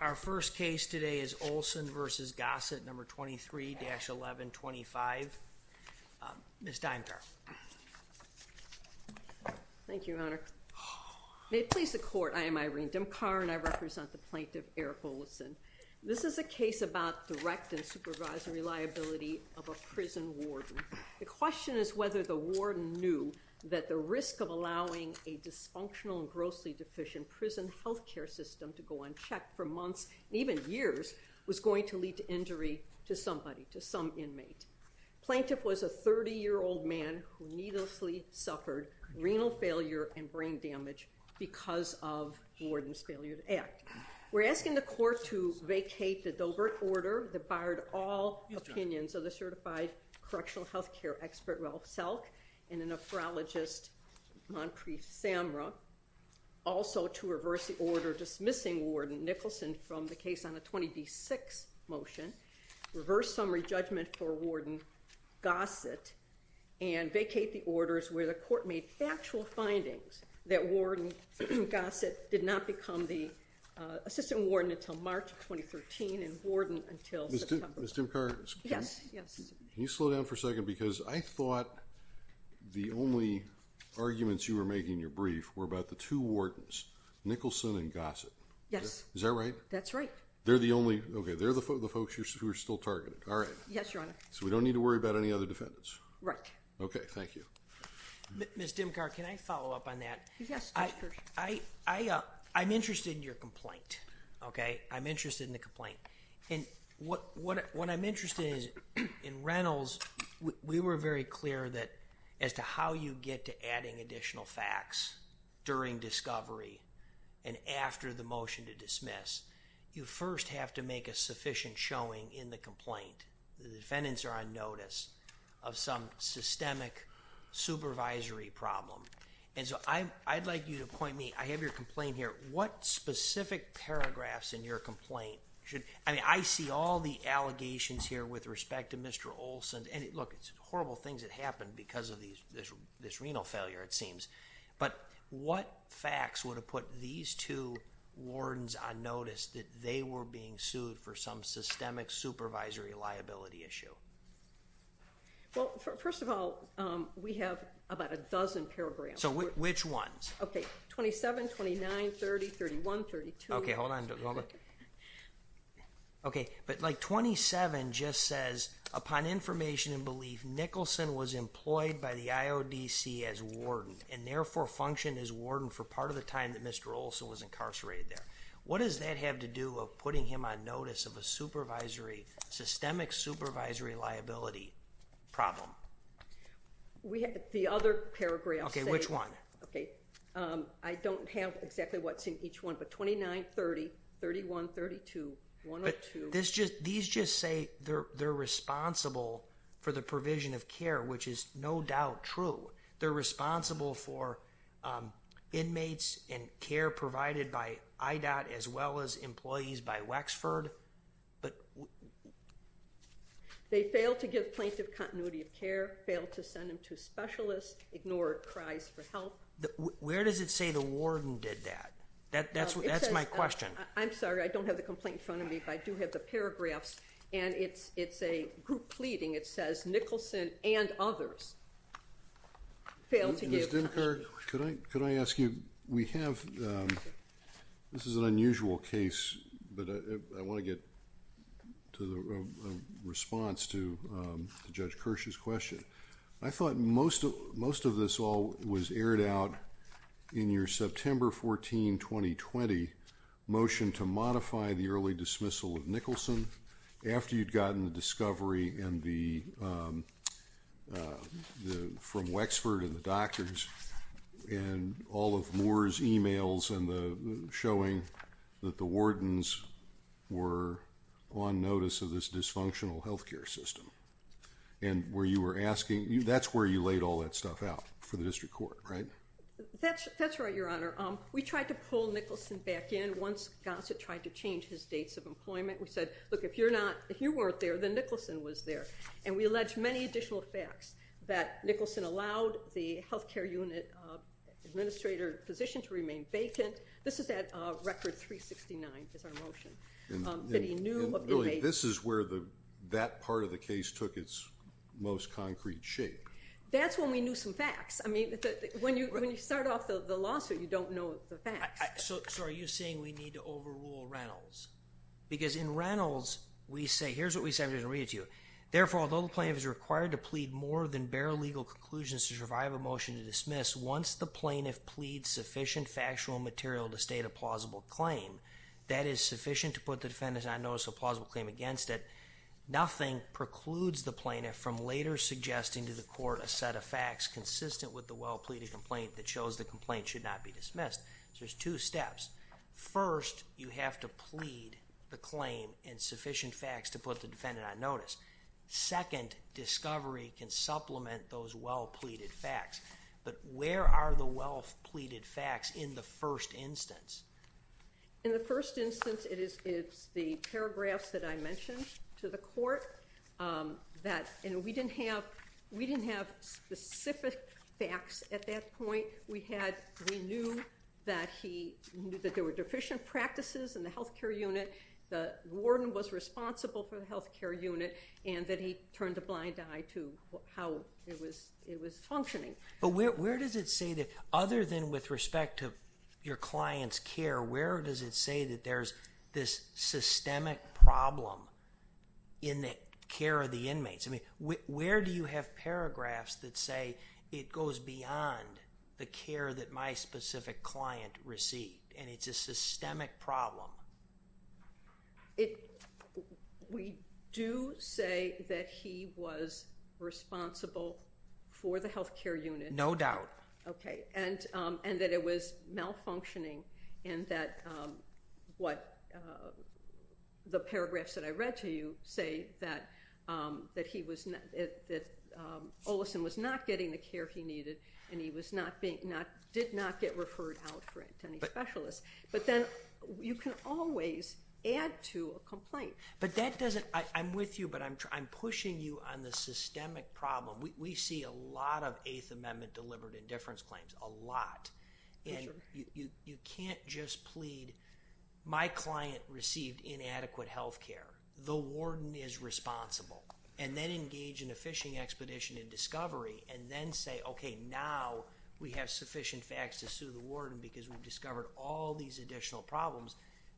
Our first case today is Olson v. Gossett, No. 23-1125. Ms. Dynkar. Thank you, Your Honor. May it please the Court, I am Irene Dymkar and I represent the plaintiff, Eric Ollison. This is a case about direct and supervisory liability of a prison warden. The question is whether the warden knew that the risk of allowing a dysfunctional and grossly deficient prison health care system to go unchecked for months, even years, was going to lead to injury to somebody, to some inmate. Plaintiff was a 30-year-old man who needlessly suffered renal failure and brain damage because of warden's failure to act. We're asking the Court to vacate the Dobert order that barred all opinions of the certified correctional health care expert, Ralph Selk, and a nephrologist, Monpreet Samra, also to reverse the order dismissing warden Nicholson from the case on a 20D6 motion, reverse summary judgment for warden Gossett, and vacate the orders where the Court made factual findings that warden Gossett did not become the assistant warden until March of 2013 and warden until September. Ms. Dymkar. Yes. Yes. Can you slow down for a second? Because I thought the only arguments you were making in your brief were about the two wardens, Nicholson and Gossett. Yes. Is that right? That's right. They're the only, okay. They're the folks who are still targeted. All right. Yes, Your Honor. So we don't need to worry about any other defendants? Right. Okay. Thank you. Ms. Dymkar, can I follow up on that? Yes. Go ahead. I'm interested in your complaint, okay? I'm interested in the complaint. And what I'm interested in is, in Reynolds, we were very clear that as to how you get to adding additional facts during discovery and after the motion to dismiss, you first have to make a sufficient showing in the complaint, the defendants are on notice of some systemic supervisory problem. And so I'd like you to point me, I have your complaint here. What specific paragraphs in your complaint should, I mean, I see all the allegations here with respect to Mr. Olson, and look, it's horrible things that happened because of these, this renal failure, it seems. But what facts would have put these two wardens on notice that they were being sued for some systemic supervisory liability issue? Well, first of all, we have about a dozen paragraphs. So which ones? Okay. 27, 29, 30, 31, 32. Okay, hold on. Hold on. Okay. But like 27 just says, upon information and belief, Nicholson was employed by the IODC as warden, and therefore functioned as warden for part of the time that Mr. Olson was incarcerated there. What does that have to do of putting him on notice of a supervisory, systemic supervisory liability problem? We have the other paragraph. Okay. Which one? Okay. I don't have exactly what's in each one, but 29, 30, 31, 32, 102. These just say they're responsible for the provision of care, which is no doubt true. They're responsible for inmates and care provided by IDOT, as well as employees by Wexford. They failed to give plaintiff continuity of care, failed to send him to specialists, ignored cries for help. Where does it say the warden did that? That's my question. I'm sorry. I don't have the complaint in front of me, but I do have the paragraphs, and it's a group pleading. It says Nicholson and others failed to give... Ms. Demker, could I ask you, we have... this is an unusual case, but I want to get a response to Judge Kirsch's question. I thought most of this all was aired out in your September 14, 2020 motion to modify the early dismissal of Nicholson after you'd gotten the discovery from Wexford and the doctors and all of Moore's emails showing that the wardens were on notice of this dysfunctional health care system, and where you were asking... that's where you laid all that stuff out for the district court, right? That's right, Your Honor. We tried to pull Nicholson back in once Gossett tried to change his dates of employment. We said, look, if you're not... if you weren't there, then Nicholson was there, and we alleged many additional facts that Nicholson allowed the health care unit administrator position to remain vacant. This is at Record 369, is our motion, that he knew of inmates... This is where that part of the case took its most concrete shape. That's when we knew some facts. I mean, when you start off the lawsuit, you don't know the facts. So, are you saying we need to overrule Reynolds? Because in Reynolds, we say... here's what we said, I'm going to read it to you. Therefore, although the plaintiff is required to plead more than bare legal conclusions to survive a motion to dismiss, once the plaintiff pleads sufficient factual material to state a plausible claim, that is sufficient to put the defendant on notice of a plausible claim against it, nothing precludes the plaintiff from later suggesting to the court a set of facts consistent with the well-pleaded complaint that shows the complaint should not be dismissed. So, there's two steps. First, you have to plead the claim in sufficient facts to put the defendant on notice. Second, discovery can supplement those well-pleaded facts, but where are the well-pleaded facts in the first instance? In the first instance, it's the paragraphs that I mentioned to the court. We didn't have specific facts at that point. We knew that there were deficient practices in the health care unit. The warden was responsible for the health care unit, and that he turned a blind eye to how it was functioning. But where does it say that, other than with respect to your client's care, where does it say that there's this systemic problem in the care of the inmates? Where do you have paragraphs that say, it goes beyond the care that my specific client received, and it's a systemic problem? We do say that he was responsible for the health care unit. No doubt. Okay. And that it was malfunctioning, and that the paragraphs that I read to you say that Olison was not getting the care he needed, and he did not get referred out to any specialists. But then, you can always add to a complaint. But that doesn't... I'm with you, but I'm pushing you on the systemic problem. We see a lot of Eighth Amendment delivered indifference claims, a lot. You can't just plead, my client received inadequate health care. The warden is responsible. And then engage in a fishing expedition and discovery, and then say, okay, now we have sufficient facts to sue the warden because we've discovered all these additional problems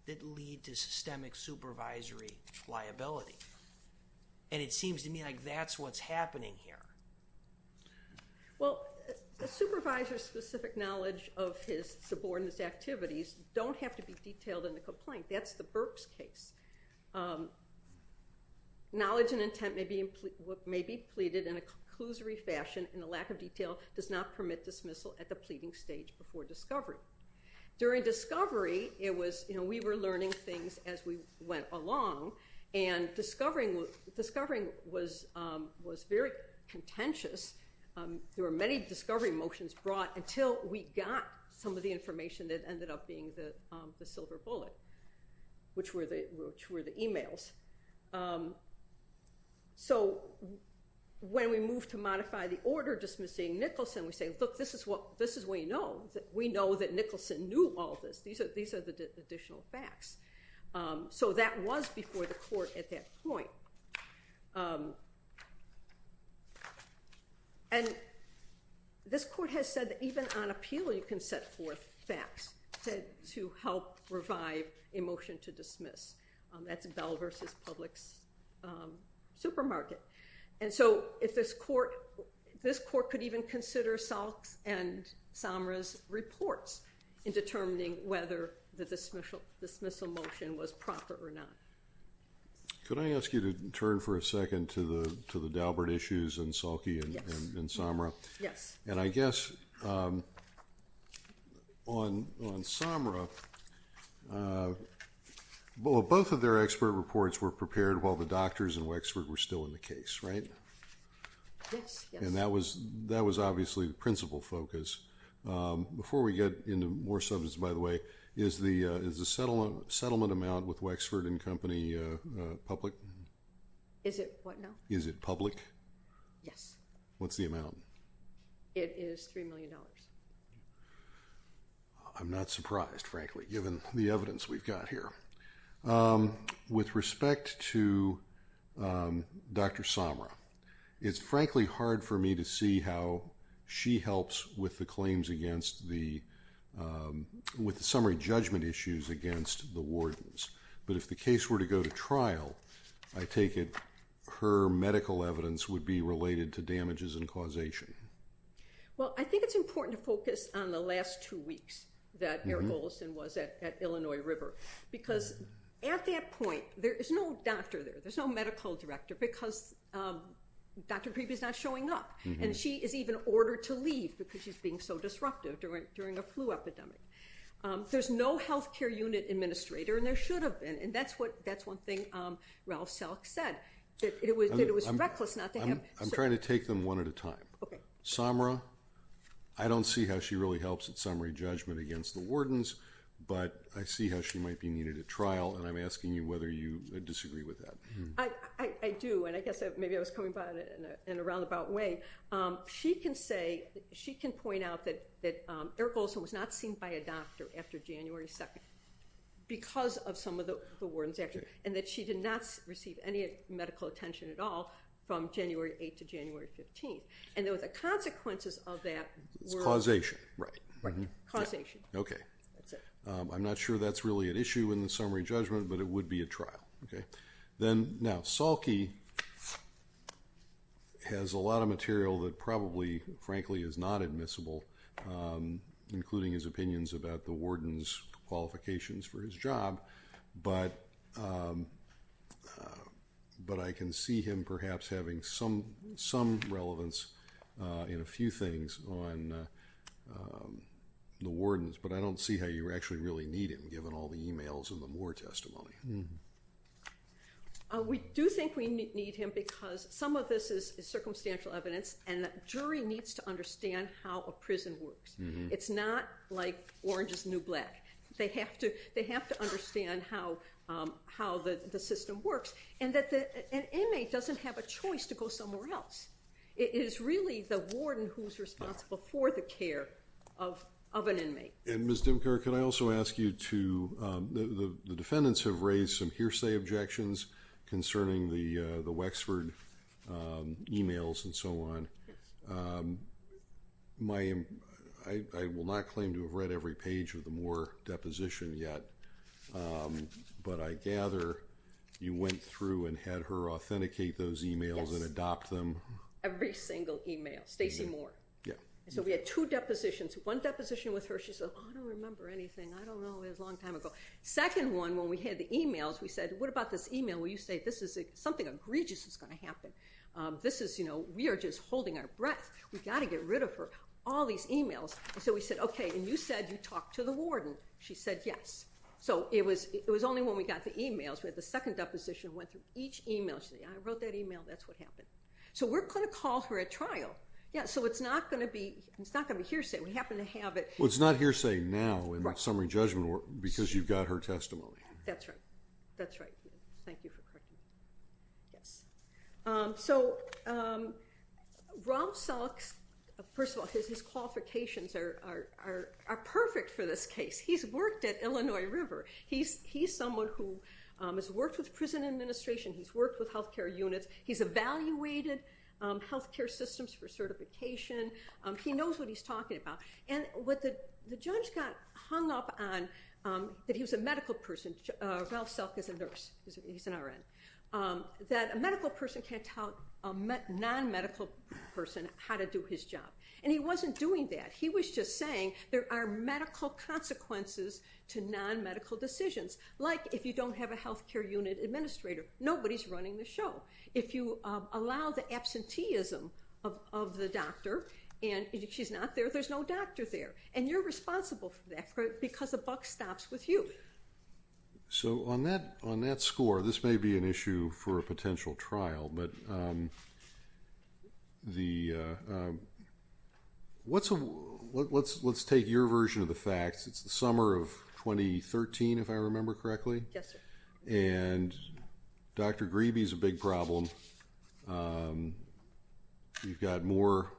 that lead to systemic supervisory liability. And it seems to me like that's what's happening here. Well, a supervisor's specific knowledge of his subordinates' activities don't have to be detailed in the complaint. That's the Burks case. Knowledge and intent may be pleaded in a clusery fashion, and a lack of detail does not permit dismissal at the pleading stage before discovery. During discovery, we were learning things as we went along, and discovering was very contentious. There were many discovery motions brought until we got some of the information that ended up being the silver bullet, which were the emails. So, when we moved to modify the order dismissing Nicholson, we said, look, this is what we know. We know that Nicholson knew all this. These are the additional facts. So that was before the court at that point. And this court has said that even on appeal, you can set forth facts to help revive a motion to dismiss. That's Bell v. Publix Supermarket. And so, this court could even consider Salk's and Samra's reports in determining whether the dismissal motion was proper or not. Could I ask you to turn for a second to the Daubert issues and Salky and Samra? Yes. And I guess on Samra, both of their expert reports were prepared while the doctors in Wexford were still in the case, right? Yes. And that was obviously the principal focus. Before we get into more substance, by the way, is the settlement amount with Wexford and Company public? Is it what now? Is it public? Yes. What's the amount? It is $3 million. I'm not surprised, frankly, given the evidence we've got here. With respect to Dr. Samra, it's frankly hard for me to see how she helps with the claims against the—with the summary judgment issues against the wardens. But if the case were to go to trial, I take it her medical evidence would be related to damages and causation. Well, I think it's important to focus on the last two weeks that Eric Olson was at Illinois River. Because at that point, there is no doctor there. There's no medical director because Dr. Priby is not showing up. And she is even ordered to leave because she's being so disruptive during a flu epidemic. There's no healthcare unit administrator, and there should have been. And that's what—that's one thing Ralph Salk said, that it was reckless not to have— I'm trying to take them one at a time. Samra, I don't see how she really helps with summary judgment against the wardens, but I see how she might be needed at trial, and I'm asking you whether you disagree with that. I do, and I guess maybe I was coming about it in a roundabout way. She can say—she can point out that Eric Olson was not seen by a doctor after January 2nd because of some of the warden's actions, and that she did not receive any medical attention at all from January 8th to January 15th. And there was a consequences of that— It's causation. Right. Causation. Okay. That's it. I'm not sure that's really an issue in the summary judgment, but it would be at trial. Now, Salky has a lot of material that probably, frankly, is not admissible, including his opinions about the warden's qualifications for his job. But I can see him perhaps having some relevance in a few things on the wardens, but I don't see how you actually really need him, given all the emails and the Moore testimony. We do think we need him because some of this is circumstantial evidence, and a jury needs to understand how a prison works. It's not like orange is the new black. They have to understand how the system works, and that an inmate doesn't have a choice to go somewhere else. It is really the warden who's responsible for the care of an inmate. And Ms. Dimker, can I also ask you to—the defendants have raised some hearsay objections concerning the Wexford emails and so on. I will not claim to have read every page of the Moore deposition yet, but I gather you went through and had her authenticate those emails and adopt them. Every single email. Stacey Moore. Yeah. So we had two depositions. One deposition with her, she said, I don't remember anything. I don't know. It was a long time ago. Second one, when we had the emails, we said, what about this email where you say this is something egregious that's going to happen? This is, you know, we are just holding our breath. We've got to get rid of her. All these emails. So we said, okay. And you said you talked to the warden. She said yes. So it was only when we got the emails, we had the second deposition, went through each email. She said, I wrote that email. That's what happened. So we're going to call her at trial. Yeah. So it's not going to be hearsay. We happen to have it— Well, it's not hearsay now in the summary judgment because you've got her testimony. That's right. That's right. Thank you for correcting me. Yes. So, Ralph Selk, first of all, his qualifications are perfect for this case. He's worked at Illinois River. He's someone who has worked with prison administration. He's worked with health care units. He's evaluated health care systems for certification. He knows what he's talking about. And what the judge got hung up on, that he was a medical person. Ralph Selk is a nurse. He's an RN. That a medical person can't tell a non-medical person how to do his job. And he wasn't doing that. He was just saying there are medical consequences to non-medical decisions. Like, if you don't have a health care unit administrator, nobody's running the show. If you allow the absenteeism of the doctor and she's not there, there's no doctor there. And you're responsible for that because the buck stops with you. So, on that score, this may be an issue for a potential trial. Let's take your version of the facts. It's the summer of 2013, if I remember correctly. Yes, sir. And Dr. Grebe is a big problem. We've got Moore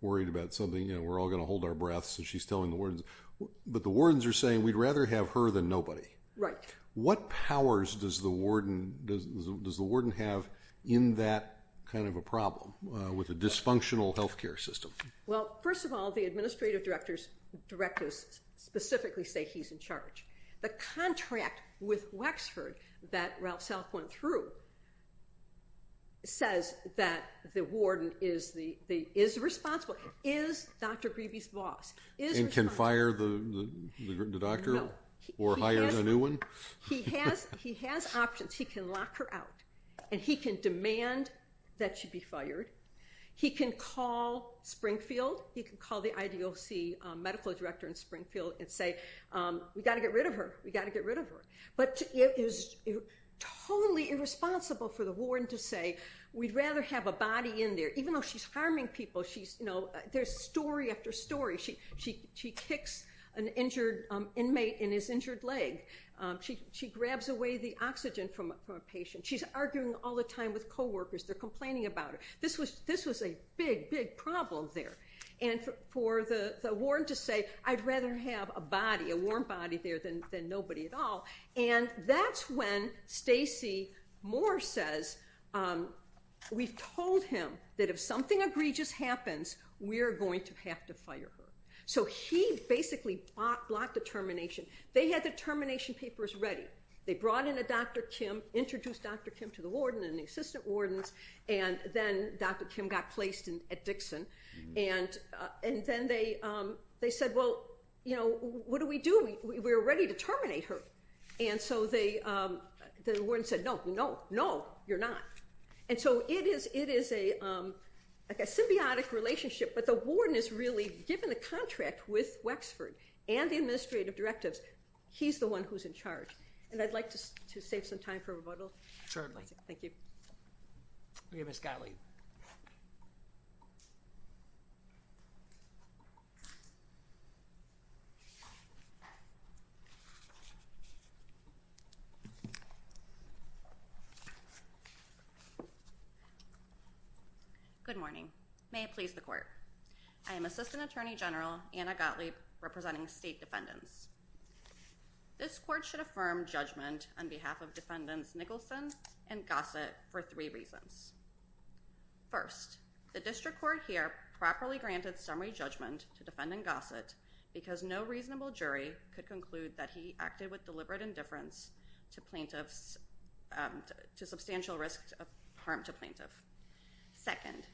worried about something. We're all going to hold our breaths as she's telling the wardens. But the wardens are saying, we'd rather have her than nobody. Right. What powers does the warden have in that kind of a problem with a dysfunctional health care system? Well, first of all, the administrative directors specifically say he's in charge. The contract with Wexford that Ralph Selk went through says that the warden is responsible. Is Dr. Grebe's boss. And can fire the doctor? Or hire a new one? He has options. He can lock her out. And he can demand that she be fired. He can call Springfield. He can call the IDOC medical director in Springfield and say, we've got to get rid of her. We've got to get rid of her. But it is totally irresponsible for the warden to say, we'd rather have a body in there. Even though she's harming people, there's story after story. She kicks an injured inmate in his injured leg. She grabs away the oxygen from a patient. She's arguing all the time with co-workers. They're complaining about her. This was a big, big problem there. And for the warden to say, I'd rather have a body, a warm body there than nobody at all. And that's when Stacey Moore says, we've told him that if something egregious happens, we're going to have to fire her. So he basically blocked the termination. They had the termination papers ready. They brought in a Dr. Kim, introduced Dr. Kim to the warden and the assistant wardens. And then Dr. Kim got placed at Dixon. And then they said, well, what do we do? We're ready to terminate her. And so the warden said, no, no, no, you're not. And so it is a symbiotic relationship. But the warden is really given a contract with Wexford and the administrative directives. He's the one who's in charge. And I'd like to save some time for rebuttal. Thank you. We have Ms. Gottlieb. Good morning. May it please the court. I am Assistant Attorney General Anna Gottlieb representing state defendants. This court should affirm judgment on behalf of defendants Nicholson and Gossett for three reasons. First, the district court here properly granted summary judgment to defendant Gossett because no reasonable jury could conclude that he acted with deliberate indifference to substantial risk of harm to plaintiff. Second,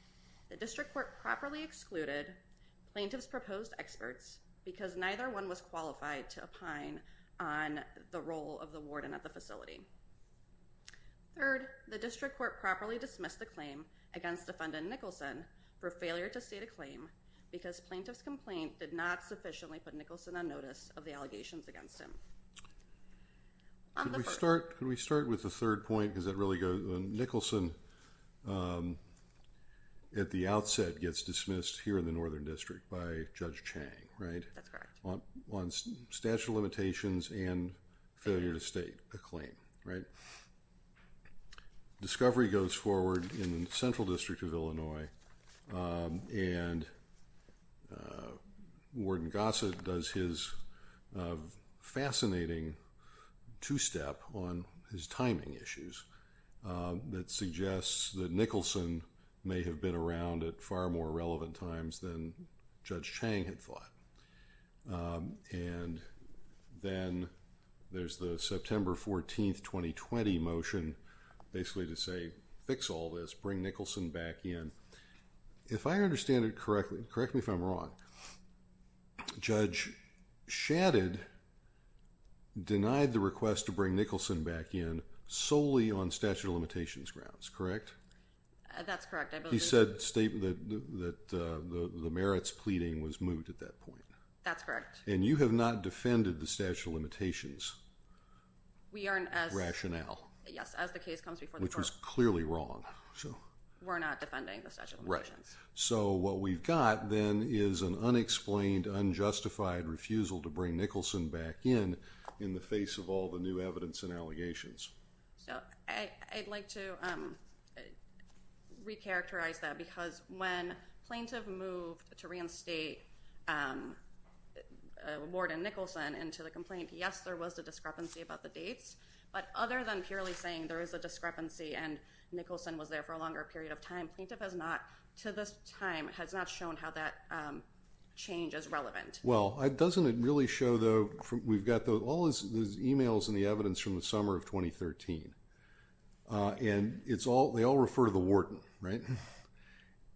the district court properly excluded plaintiff's proposed experts because neither one was qualified to opine on the role of the warden at the facility. Third, the district court properly dismissed the claim against defendant Nicholson for failure to state a claim because plaintiff's complaint did not sufficiently put Nicholson on notice of the allegations against him. Could we start with the third point? Nicholson at the outset gets dismissed here in the Northern District by Judge Chang, right? That's correct. On statute of limitations and failure to state a claim, right? Discovery goes forward in the Central District of Illinois and Warden Gossett does his fascinating two-step on his timing issues that suggests that Nicholson may have been around at far more relevant times than Judge Chang had thought. And then there's the September 14th, 2020 motion basically to say fix all this, bring Nicholson back in. If I understand it correctly, correct me if I'm wrong, Judge Shadid denied the request to bring Nicholson back in solely on statute of limitations grounds, correct? That's correct. He said the merits pleading was moot at that point. That's correct. And you have not defended the statute of limitations rationale. Yes, as the case comes before the court. That's clearly wrong. We're not defending the statute of limitations. Right. So what we've got then is an unexplained, unjustified refusal to bring Nicholson back in in the face of all the new evidence and allegations. So I'd like to recharacterize that because when plaintiff moved to reinstate Warden Nicholson into the complaint, yes, there was a discrepancy about the dates, but other than purely saying there is a discrepancy and Nicholson was there for a longer period of time, plaintiff has not, to this time, has not shown how that change is relevant. Well, it doesn't really show though. We've got all those emails and the evidence from the summer of 2013. And it's all, they all refer to the Warden, right?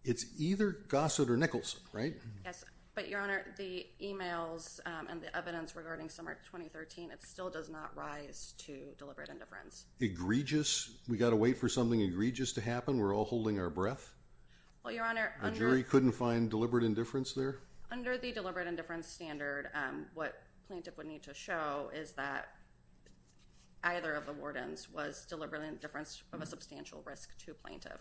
It's either Gossett or Nicholson, right? Yes. But your honor, the emails and the evidence regarding summer of 2013, it still does not rise to deliberate indifference. Egregious? We got to wait for something egregious to happen? We're all holding our breath? Well, your honor. The jury couldn't find deliberate indifference there? Under the deliberate indifference standard, what plaintiff would need to show is that either of the wardens was deliberate indifference of a substantial risk to plaintiff.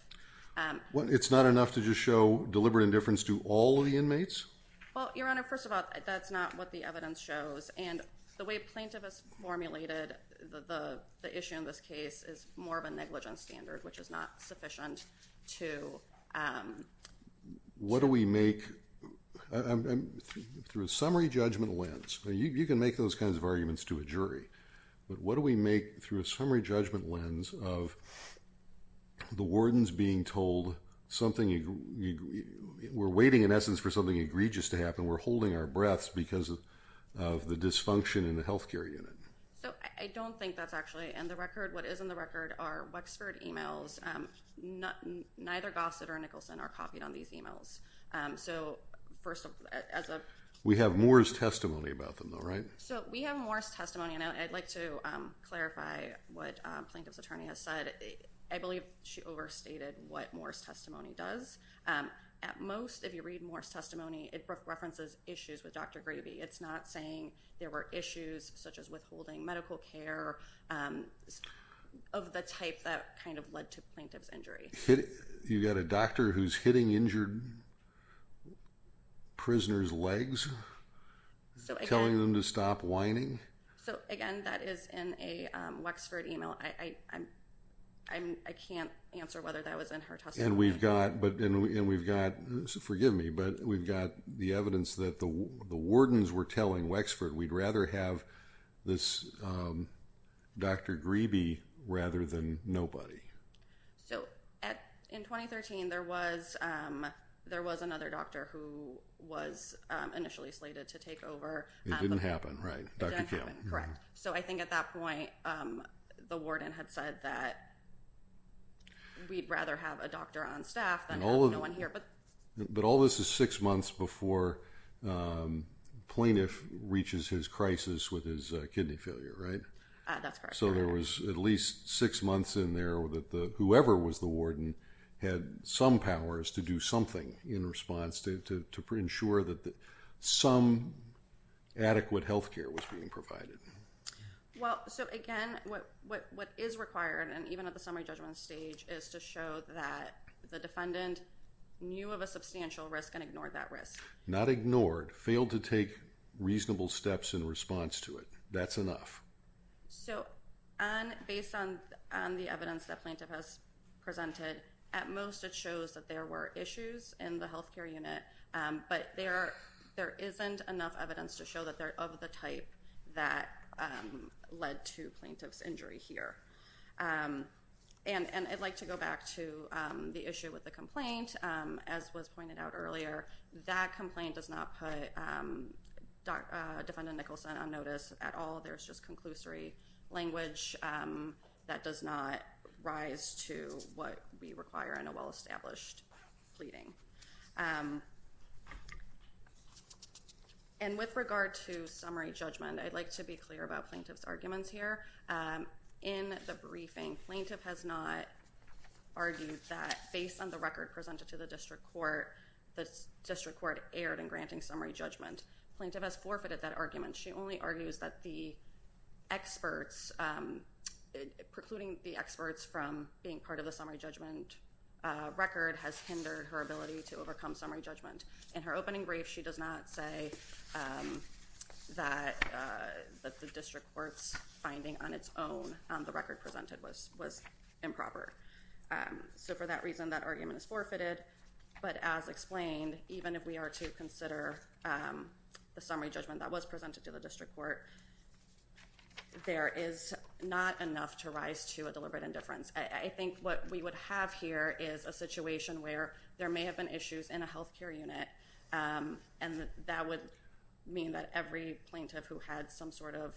It's not enough to just show deliberate indifference to all of the inmates? Well, your honor, first of all, that's not what the evidence shows. And the way plaintiff has formulated the issue in this case is more of a negligence standard, which is not sufficient to. What do we make, through a summary judgment lens, you can make those kinds of arguments to a jury, but what do we make through a summary judgment lens of the wardens being told something, we're waiting in essence for something egregious to happen, and we're holding our breaths because of the dysfunction in the healthcare unit? So, I don't think that's actually in the record. What is in the record are Wexford emails. Neither Gossett or Nicholson are copied on these emails. So, first of all. We have Moore's testimony about them though, right? So, we have Moore's testimony, and I'd like to clarify what plaintiff's attorney has said. I believe she overstated what Moore's testimony does. At most, if you read Moore's testimony, it references issues with Dr. Gravey. It's not saying there were issues, such as withholding medical care, of the type that kind of led to plaintiff's injury. You've got a doctor who's hitting injured prisoners' legs, telling them to stop whining? So, again, that is in a Wexford email. I can't answer whether that was in her testimony. And we've got, forgive me, but we've got the evidence that the wardens were telling Wexford we'd rather have this Dr. Gravey rather than nobody. So, in 2013, there was another doctor who was initially slated to take over. It didn't happen, right? It didn't happen, correct. So, I think at that point, the warden had said that we'd rather have a doctor on staff than have no one here. But all this is six months before plaintiff reaches his crisis with his kidney failure, right? That's correct. So there was at least six months in there that whoever was the warden had some powers to do something in response to ensure that some adequate health care was being provided. Well, so, again, what is required, and even at the summary judgment stage, is to show that the defendant knew of a substantial risk and ignored that risk. Not ignored. Failed to take reasonable steps in response to it. That's enough. So, based on the evidence that plaintiff has presented, at most it shows that there were issues in the health care unit, but there isn't enough evidence to show that they're of the type that led to plaintiff's injury here. And I'd like to go back to the issue with the complaint. As was pointed out earlier, that complaint does not put Defendant Nicholson on notice at all. There's just conclusory language that does not rise to what we require in a well-established pleading. And with regard to summary judgment, I'd like to be clear about plaintiff's arguments here. In the briefing, plaintiff has not argued that, based on the record presented to the district court, the district court erred in granting summary judgment. Plaintiff has forfeited that argument. She only argues that the experts, precluding the experts from being part of the summary judgment record, has hindered her ability to overcome summary judgment. In her opening brief, she does not say that the district court's finding on its own on the record presented was improper. So, for that reason, that argument is forfeited. But as explained, even if we are to consider the summary judgment that was presented to the district court, there is not enough to rise to a deliberate indifference. I think what we would have here is a situation where there may have been issues in a health care unit, and that would mean that every plaintiff who had some sort of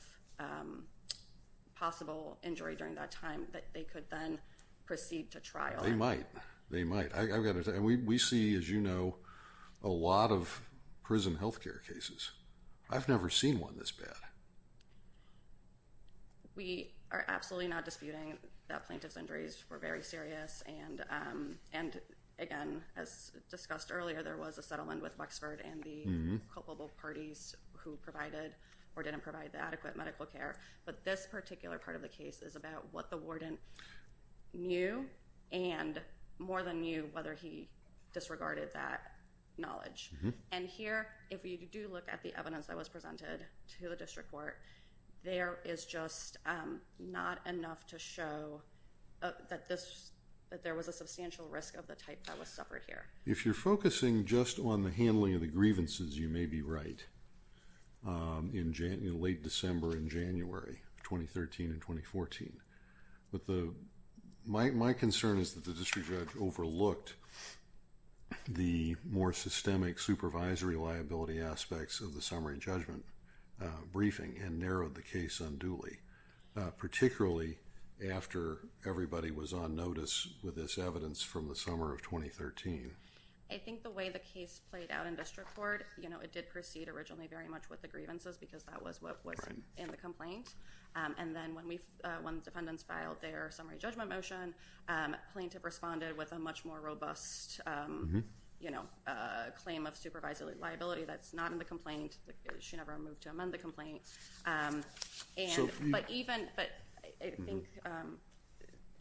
possible injury during that time, that they could then proceed to trial. They might. We see, as you know, a lot of prison health care cases. I've never seen one this bad. We are absolutely not disputing that plaintiff's injuries were very serious. And, again, as discussed earlier, there was a settlement with Wexford and the culpable parties who provided or didn't provide the adequate medical care. But this particular part of the case is about what the warden knew and more than knew whether he disregarded that knowledge. And here, if you do look at the evidence that was presented to the district court, there is just not enough to show that there was a substantial risk of the type that was suffered here. If you're focusing just on the handling of the grievances, you may be right in late December and January of 2013 and 2014. But my concern is that the district judge overlooked the more systemic supervisory liability aspects of the summary judgment briefing and narrowed the case unduly, particularly after everybody was on notice with this evidence from the summer of 2013. I think the way the case played out in district court, it did proceed originally very much with the grievances because that was what was in the complaint. And then when the defendants filed their summary judgment motion, plaintiff responded with a much more robust claim of supervisory liability that's not in the complaint. She never moved to amend the complaint. But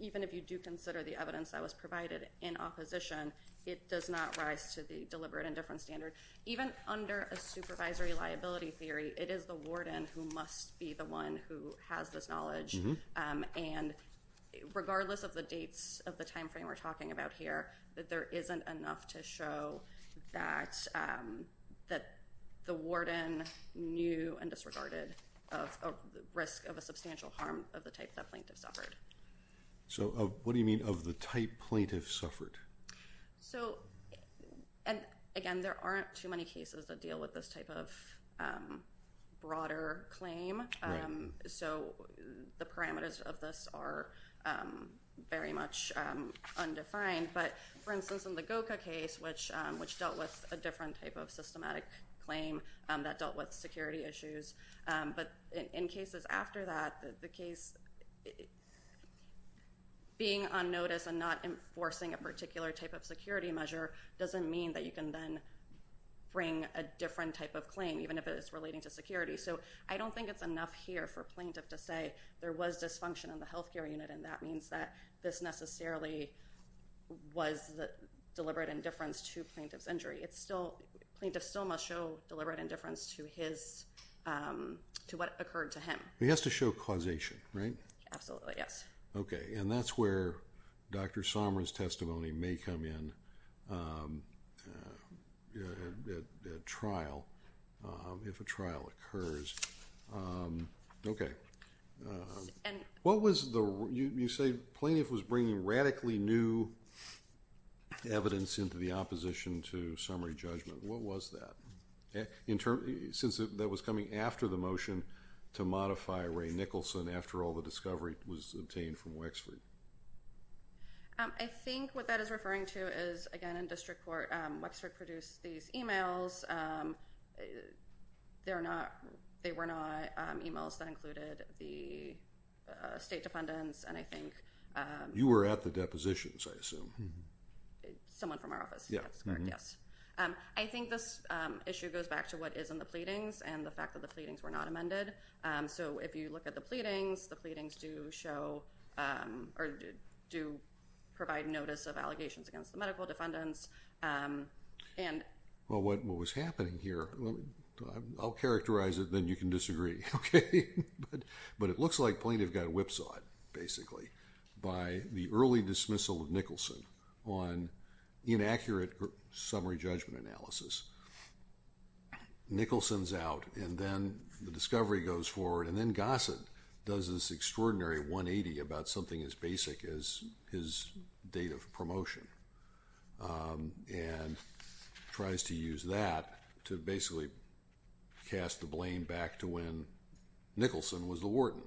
even if you do consider the evidence that was provided in opposition, it does not rise to the deliberate and different standard. Even under a supervisory liability theory, it is the warden who must be the one who has this knowledge. And regardless of the dates of the timeframe we're talking about here, that there isn't enough to show that the warden knew and disregarded the risk of a substantial harm of the type that plaintiff suffered. So what do you mean of the type plaintiff suffered? So, and again, there aren't too many cases that deal with this type of broader claim. So the parameters of this are very much undefined. But for instance, in the Goka case, which dealt with a different type of systematic claim that dealt with security issues. But in cases after that, the case being on notice and not enforcing a particular type of security measure doesn't mean that you can then bring a different type of claim, even if it is relating to security. So I don't think it's enough here for plaintiff to say there was dysfunction in the health care unit, and that means that this necessarily was deliberate indifference to plaintiff's injury. Plaintiff still must show deliberate indifference to what occurred to him. He has to show causation, right? Absolutely, yes. Okay, and that's where Dr. Somra's testimony may come in at trial, if a trial occurs. Okay. What was the, you say plaintiff was bringing radically new evidence into the opposition to summary judgment. What was that? Since that was coming after the motion to modify Ray Nicholson after all the discovery was obtained from Wexford. I think what that is referring to is, again, in district court, Wexford produced these emails. They were not emails that included the state defendants, and I think- You were at the depositions, I assume. Someone from our office, that's correct, yes. I think this issue goes back to what is in the pleadings and the fact that the pleadings were not amended. So if you look at the pleadings, the pleadings do show or do provide notice of allegations against the medical defendants. Well, what was happening here, I'll characterize it, then you can disagree, okay? But it looks like plaintiff got whipsawed, basically, by the early dismissal of Nicholson on inaccurate summary judgment analysis. Nicholson's out, and then the discovery goes forward, and then Gossett does this extraordinary 180 about something as basic as his date of promotion. And tries to use that to basically cast the blame back to when Nicholson was the warden.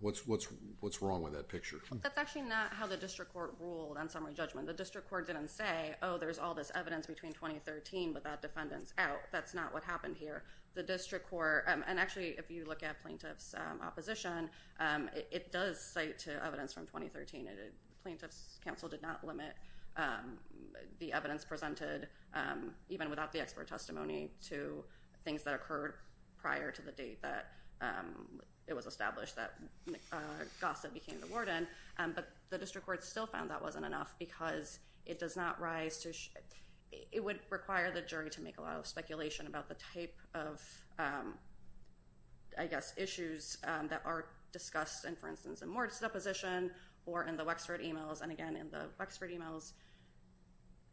What's wrong with that picture? That's actually not how the district court ruled on summary judgment. The district court didn't say, oh, there's all this evidence between 2013, but that defendant's out. That's not what happened here. The district court, and actually, if you look at plaintiff's opposition, it does cite to evidence from 2013. Plaintiff's counsel did not limit the evidence presented, even without the expert testimony, to things that occurred prior to the date that it was established that Gossett became the warden. But the district court still found that wasn't enough because it does not rise to, it would require the jury to make a lot of speculation about the type of, I guess, issues that are discussed, and for instance, in Moore's deposition or in the Wexford emails, and again, in the Wexford emails,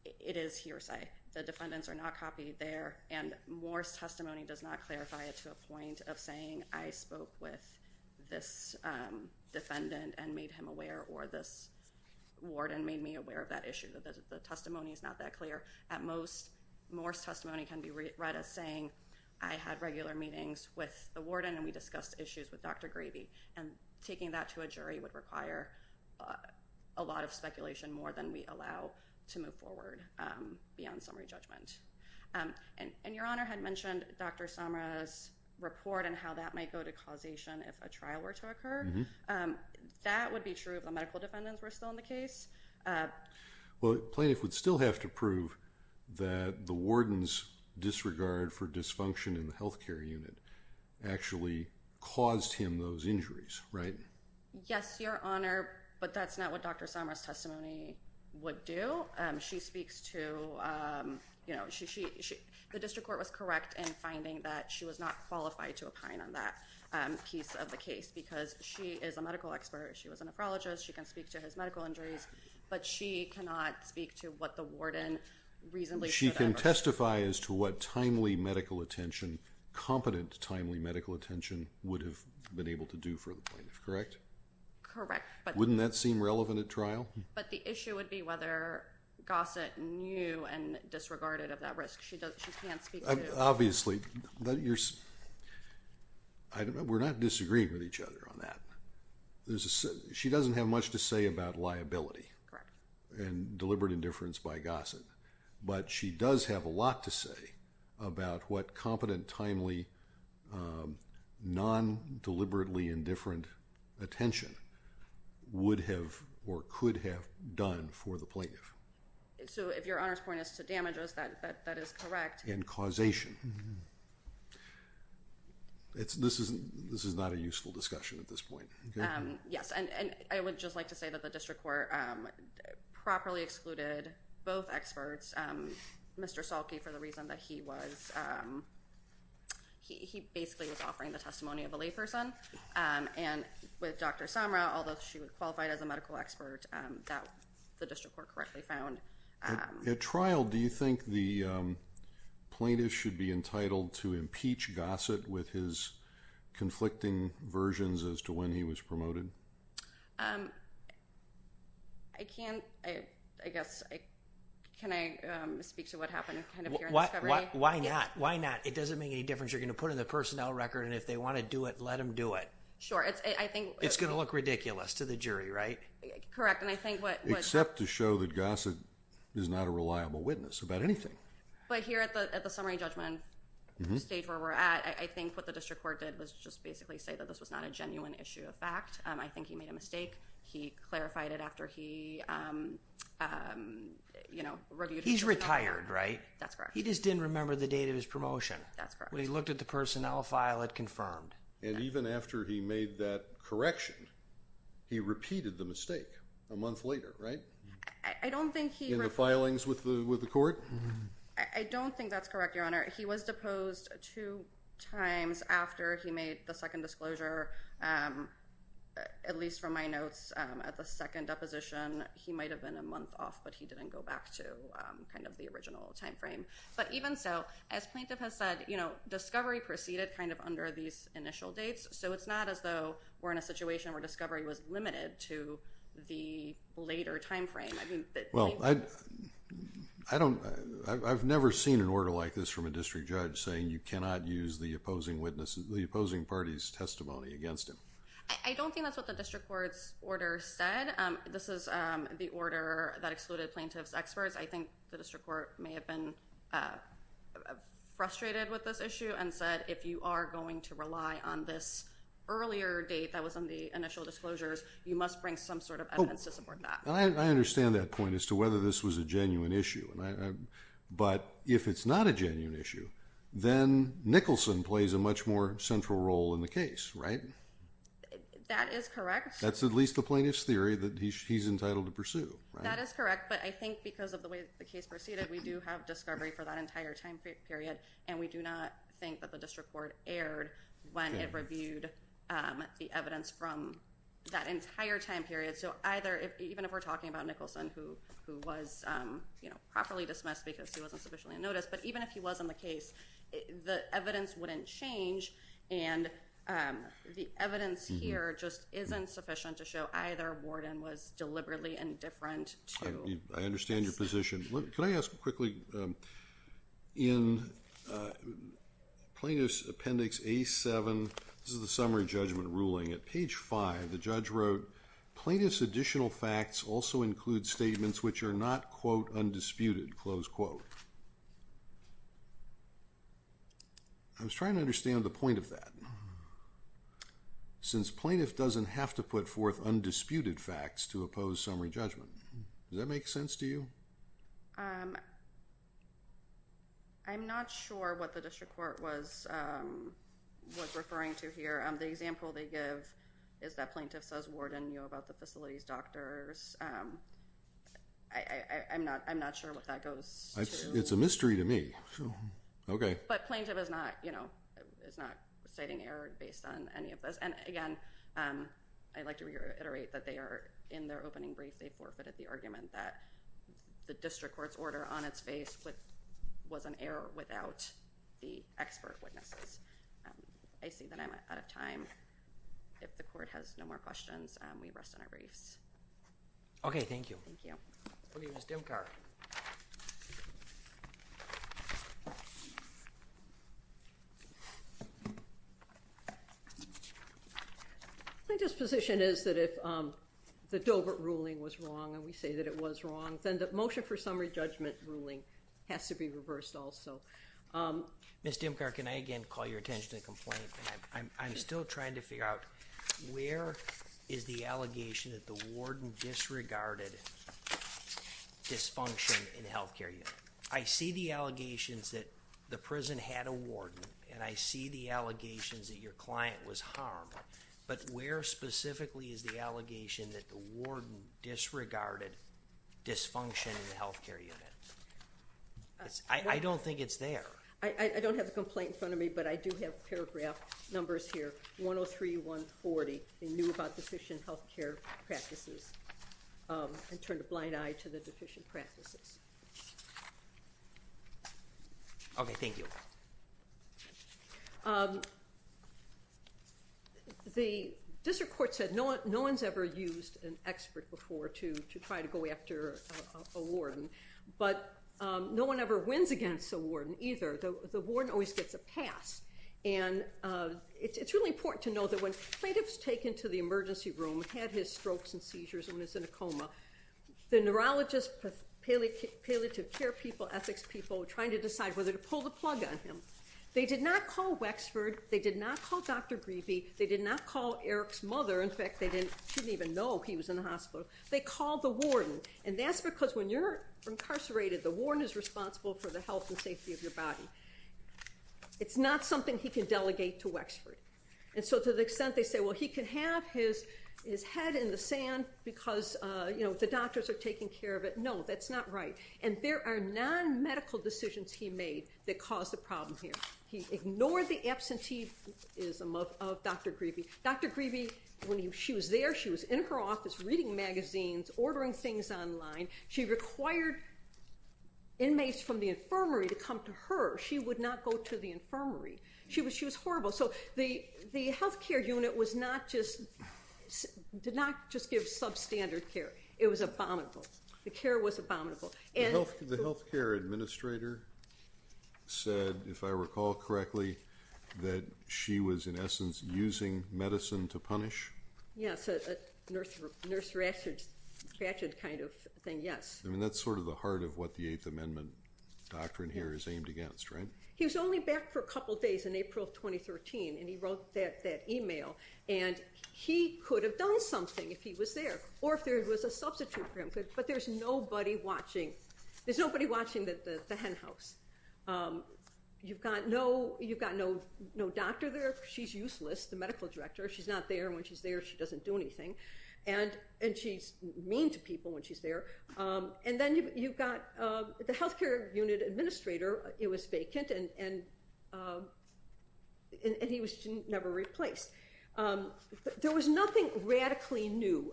it is hearsay. The defendants are not copied there, and Moore's testimony does not clarify it to a point of saying, I spoke with this defendant and made him aware, or this warden made me aware of that issue. The testimony is not that clear. At most, Moore's testimony can be read as saying, I had regular meetings with the warden, and we discussed issues with Dr. Gravey, and taking that to a jury would require a lot of speculation, more than we allow to move forward beyond summary judgment. And your Honor had mentioned Dr. Samra's report and how that might go to causation if a trial were to occur. That would be true if the medical defendants were still in the case? Well, plaintiff would still have to prove that the warden's disregard for dysfunction in the health care unit actually caused him those injuries, right? Yes, Your Honor, but that's not what Dr. Samra's testimony would do. She speaks to, you know, the district court was correct in finding that she was not qualified to opine on that piece of the case, because she is a medical expert, she was a nephrologist, she can speak to his medical injuries, but she cannot speak to what the warden reasonably should have. She can testify as to what timely medical attention, competent timely medical attention, would have been able to do for the plaintiff, correct? Correct. Wouldn't that seem relevant at trial? But the issue would be whether Gossett knew and disregarded of that risk. She can't speak to it. Obviously, we're not disagreeing with each other on that. She doesn't have much to say about liability and deliberate indifference by Gossett, but she does have a lot to say about what competent, timely, non-deliberately indifferent attention would have or could have done for the plaintiff. So if Your Honor's point is to damages, that is correct. And causation. This is not a useful discussion at this point. Yes, and I would just like to say that the district court properly excluded both experts, Mr. Salke, for the reason that he basically was offering the testimony of a layperson, and with Dr. Samra, although she was qualified as a medical expert, the district court correctly found. At trial, do you think the plaintiff should be entitled to impeach Gossett with his conflicting versions as to when he was promoted? I can't. I guess can I speak to what happened here at the discovery? Why not? Why not? It doesn't make any difference. You're going to put it in the personnel record, and if they want to do it, let them do it. Sure. It's going to look ridiculous to the jury, right? Correct. Except to show that Gossett is not a reliable witness about anything. But here at the summary judgment stage where we're at, I think what the district court did was just basically say that this was not a genuine issue of fact. I think he made a mistake. He clarified it after he reviewed it. He's retired, right? That's correct. He just didn't remember the date of his promotion. That's correct. When he looked at the personnel file, it confirmed. And even after he made that correction, he repeated the mistake a month later, right? I don't think he. In the filings with the court? I don't think that's correct, Your Honor. He was deposed two times after he made the second disclosure, at least from my notes, at the second deposition. He might have been a month off, but he didn't go back to kind of the original time frame. But even so, as plaintiff has said, discovery proceeded kind of under these initial dates, so it's not as though we're in a situation where discovery was limited to the later time frame. Well, I've never seen an order like this from a district judge saying you cannot use the opposing party's testimony against him. I don't think that's what the district court's order said. This is the order that excluded plaintiff's experts. I think the district court may have been frustrated with this issue and said, if you are going to rely on this earlier date that was in the initial disclosures, you must bring some sort of evidence to support that. I understand that point as to whether this was a genuine issue. But if it's not a genuine issue, then Nicholson plays a much more central role in the case, right? That is correct. That's at least the plaintiff's theory that he's entitled to pursue. That is correct. But I think because of the way the case proceeded, we do have discovery for that entire time period, and we do not think that the district court erred when it reviewed the evidence from that entire time period. So even if we're talking about Nicholson, who was properly dismissed because he wasn't sufficiently in notice, but even if he was in the case, the evidence wouldn't change. And the evidence here just isn't sufficient to show either warden was deliberately indifferent to. I understand your position. Can I ask quickly, in Plaintiff's Appendix A-7, this is the summary judgment ruling, at page 5, the judge wrote, plaintiff's additional facts also include statements which are not, quote, undisputed, close quote. I was trying to understand the point of that. Since plaintiff doesn't have to put forth undisputed facts to oppose summary judgment, does that make sense to you? I'm not sure what the district court was referring to here. The example they give is that plaintiff says warden knew about the facility's doctors. I'm not sure what that goes to. It's a mystery to me. But plaintiff is not citing error based on any of this. And again, I'd like to reiterate that they are in their opening brief. They forfeited the argument that the district court's order on its face was an error without the expert witnesses. I see that I'm out of time. If the court has no more questions, we rest on our briefs. Okay, thank you. Thank you. Okay, Ms. Dimkar. My disposition is that if the Dovert ruling was wrong and we say that it was wrong, then the motion for summary judgment ruling has to be reversed also. Ms. Dimkar, can I again call your attention to the complaint? I'm still trying to figure out where is the allegation that the warden disregarded dysfunction in the health care unit? I see the allegations that the prison had a warden, and I see the allegations that your client was harmed. But where specifically is the allegation that the warden disregarded dysfunction in the health care unit? I don't think it's there. I don't have the complaint in front of me, but I do have paragraph numbers here, 103-140. They knew about deficient health care practices and turned a blind eye to the deficient practices. Okay, thank you. The district court said no one's ever used an expert before to try to go after a warden, but no one ever wins against a warden either. The warden always gets a pass. And it's really important to know that when plaintiff's taken to the emergency room, had his strokes and seizures, and was in a coma, the neurologist, palliative care people, ethics people were trying to decide whether to pull the plug on him. They did not call Wexford. They did not call Dr. Grebe. They did not call Eric's mother. In fact, they didn't even know he was in the hospital. They called the warden. And that's because when you're incarcerated, the warden is responsible for the health and safety of your body. It's not something he can delegate to Wexford. And so to the extent they say, well, he can have his head in the sand because, you know, the doctors are taking care of it, no, that's not right. And there are non-medical decisions he made that caused the problem here. He ignored the absenteeism of Dr. Grebe. Dr. Grebe, when she was there, she was in her office reading magazines, ordering things online. She required inmates from the infirmary to come to her. She would not go to the infirmary. She was horrible. So the health care unit did not just give substandard care. It was abominable. The care was abominable. The health care administrator said, if I recall correctly, that she was in essence using medicine to punish? Yes, a nurse ratchet kind of thing, yes. I mean, that's sort of the heart of what the Eighth Amendment doctrine here is aimed against, right? He was only back for a couple days in April of 2013, and he wrote that e-mail. And he could have done something if he was there or if there was a substitute for him. But there's nobody watching. There's nobody watching the hen house. You've got no doctor there. She's useless, the medical director. She's not there. When she's there, she doesn't do anything. And she's mean to people when she's there. And then you've got the health care unit administrator. It was vacant, and he was never replaced. There was nothing radically new.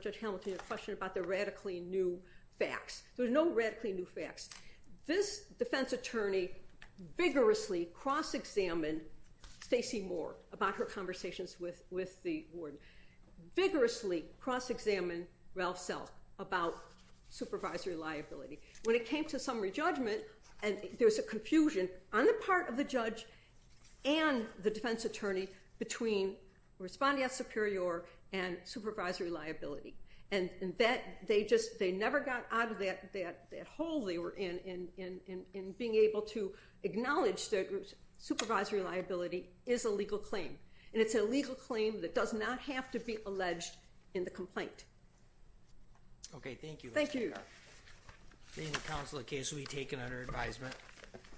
Judge Hamilton, you had a question about the radically new facts. There were no radically new facts. This defense attorney vigorously cross-examined Stacey Moore about her conversations with the warden, vigorously cross-examined Ralph Self about supervisory liability. When it came to summary judgment, there was a confusion on the part of the judge and the defense attorney between respondeat superior and supervisory liability. And they never got out of that hole they were in in being able to acknowledge that supervisory liability is a legal claim. And it's a legal claim that does not have to be alleged in the complaint. Okay, thank you. Thank you. The counsel of the case will be taken under advisement.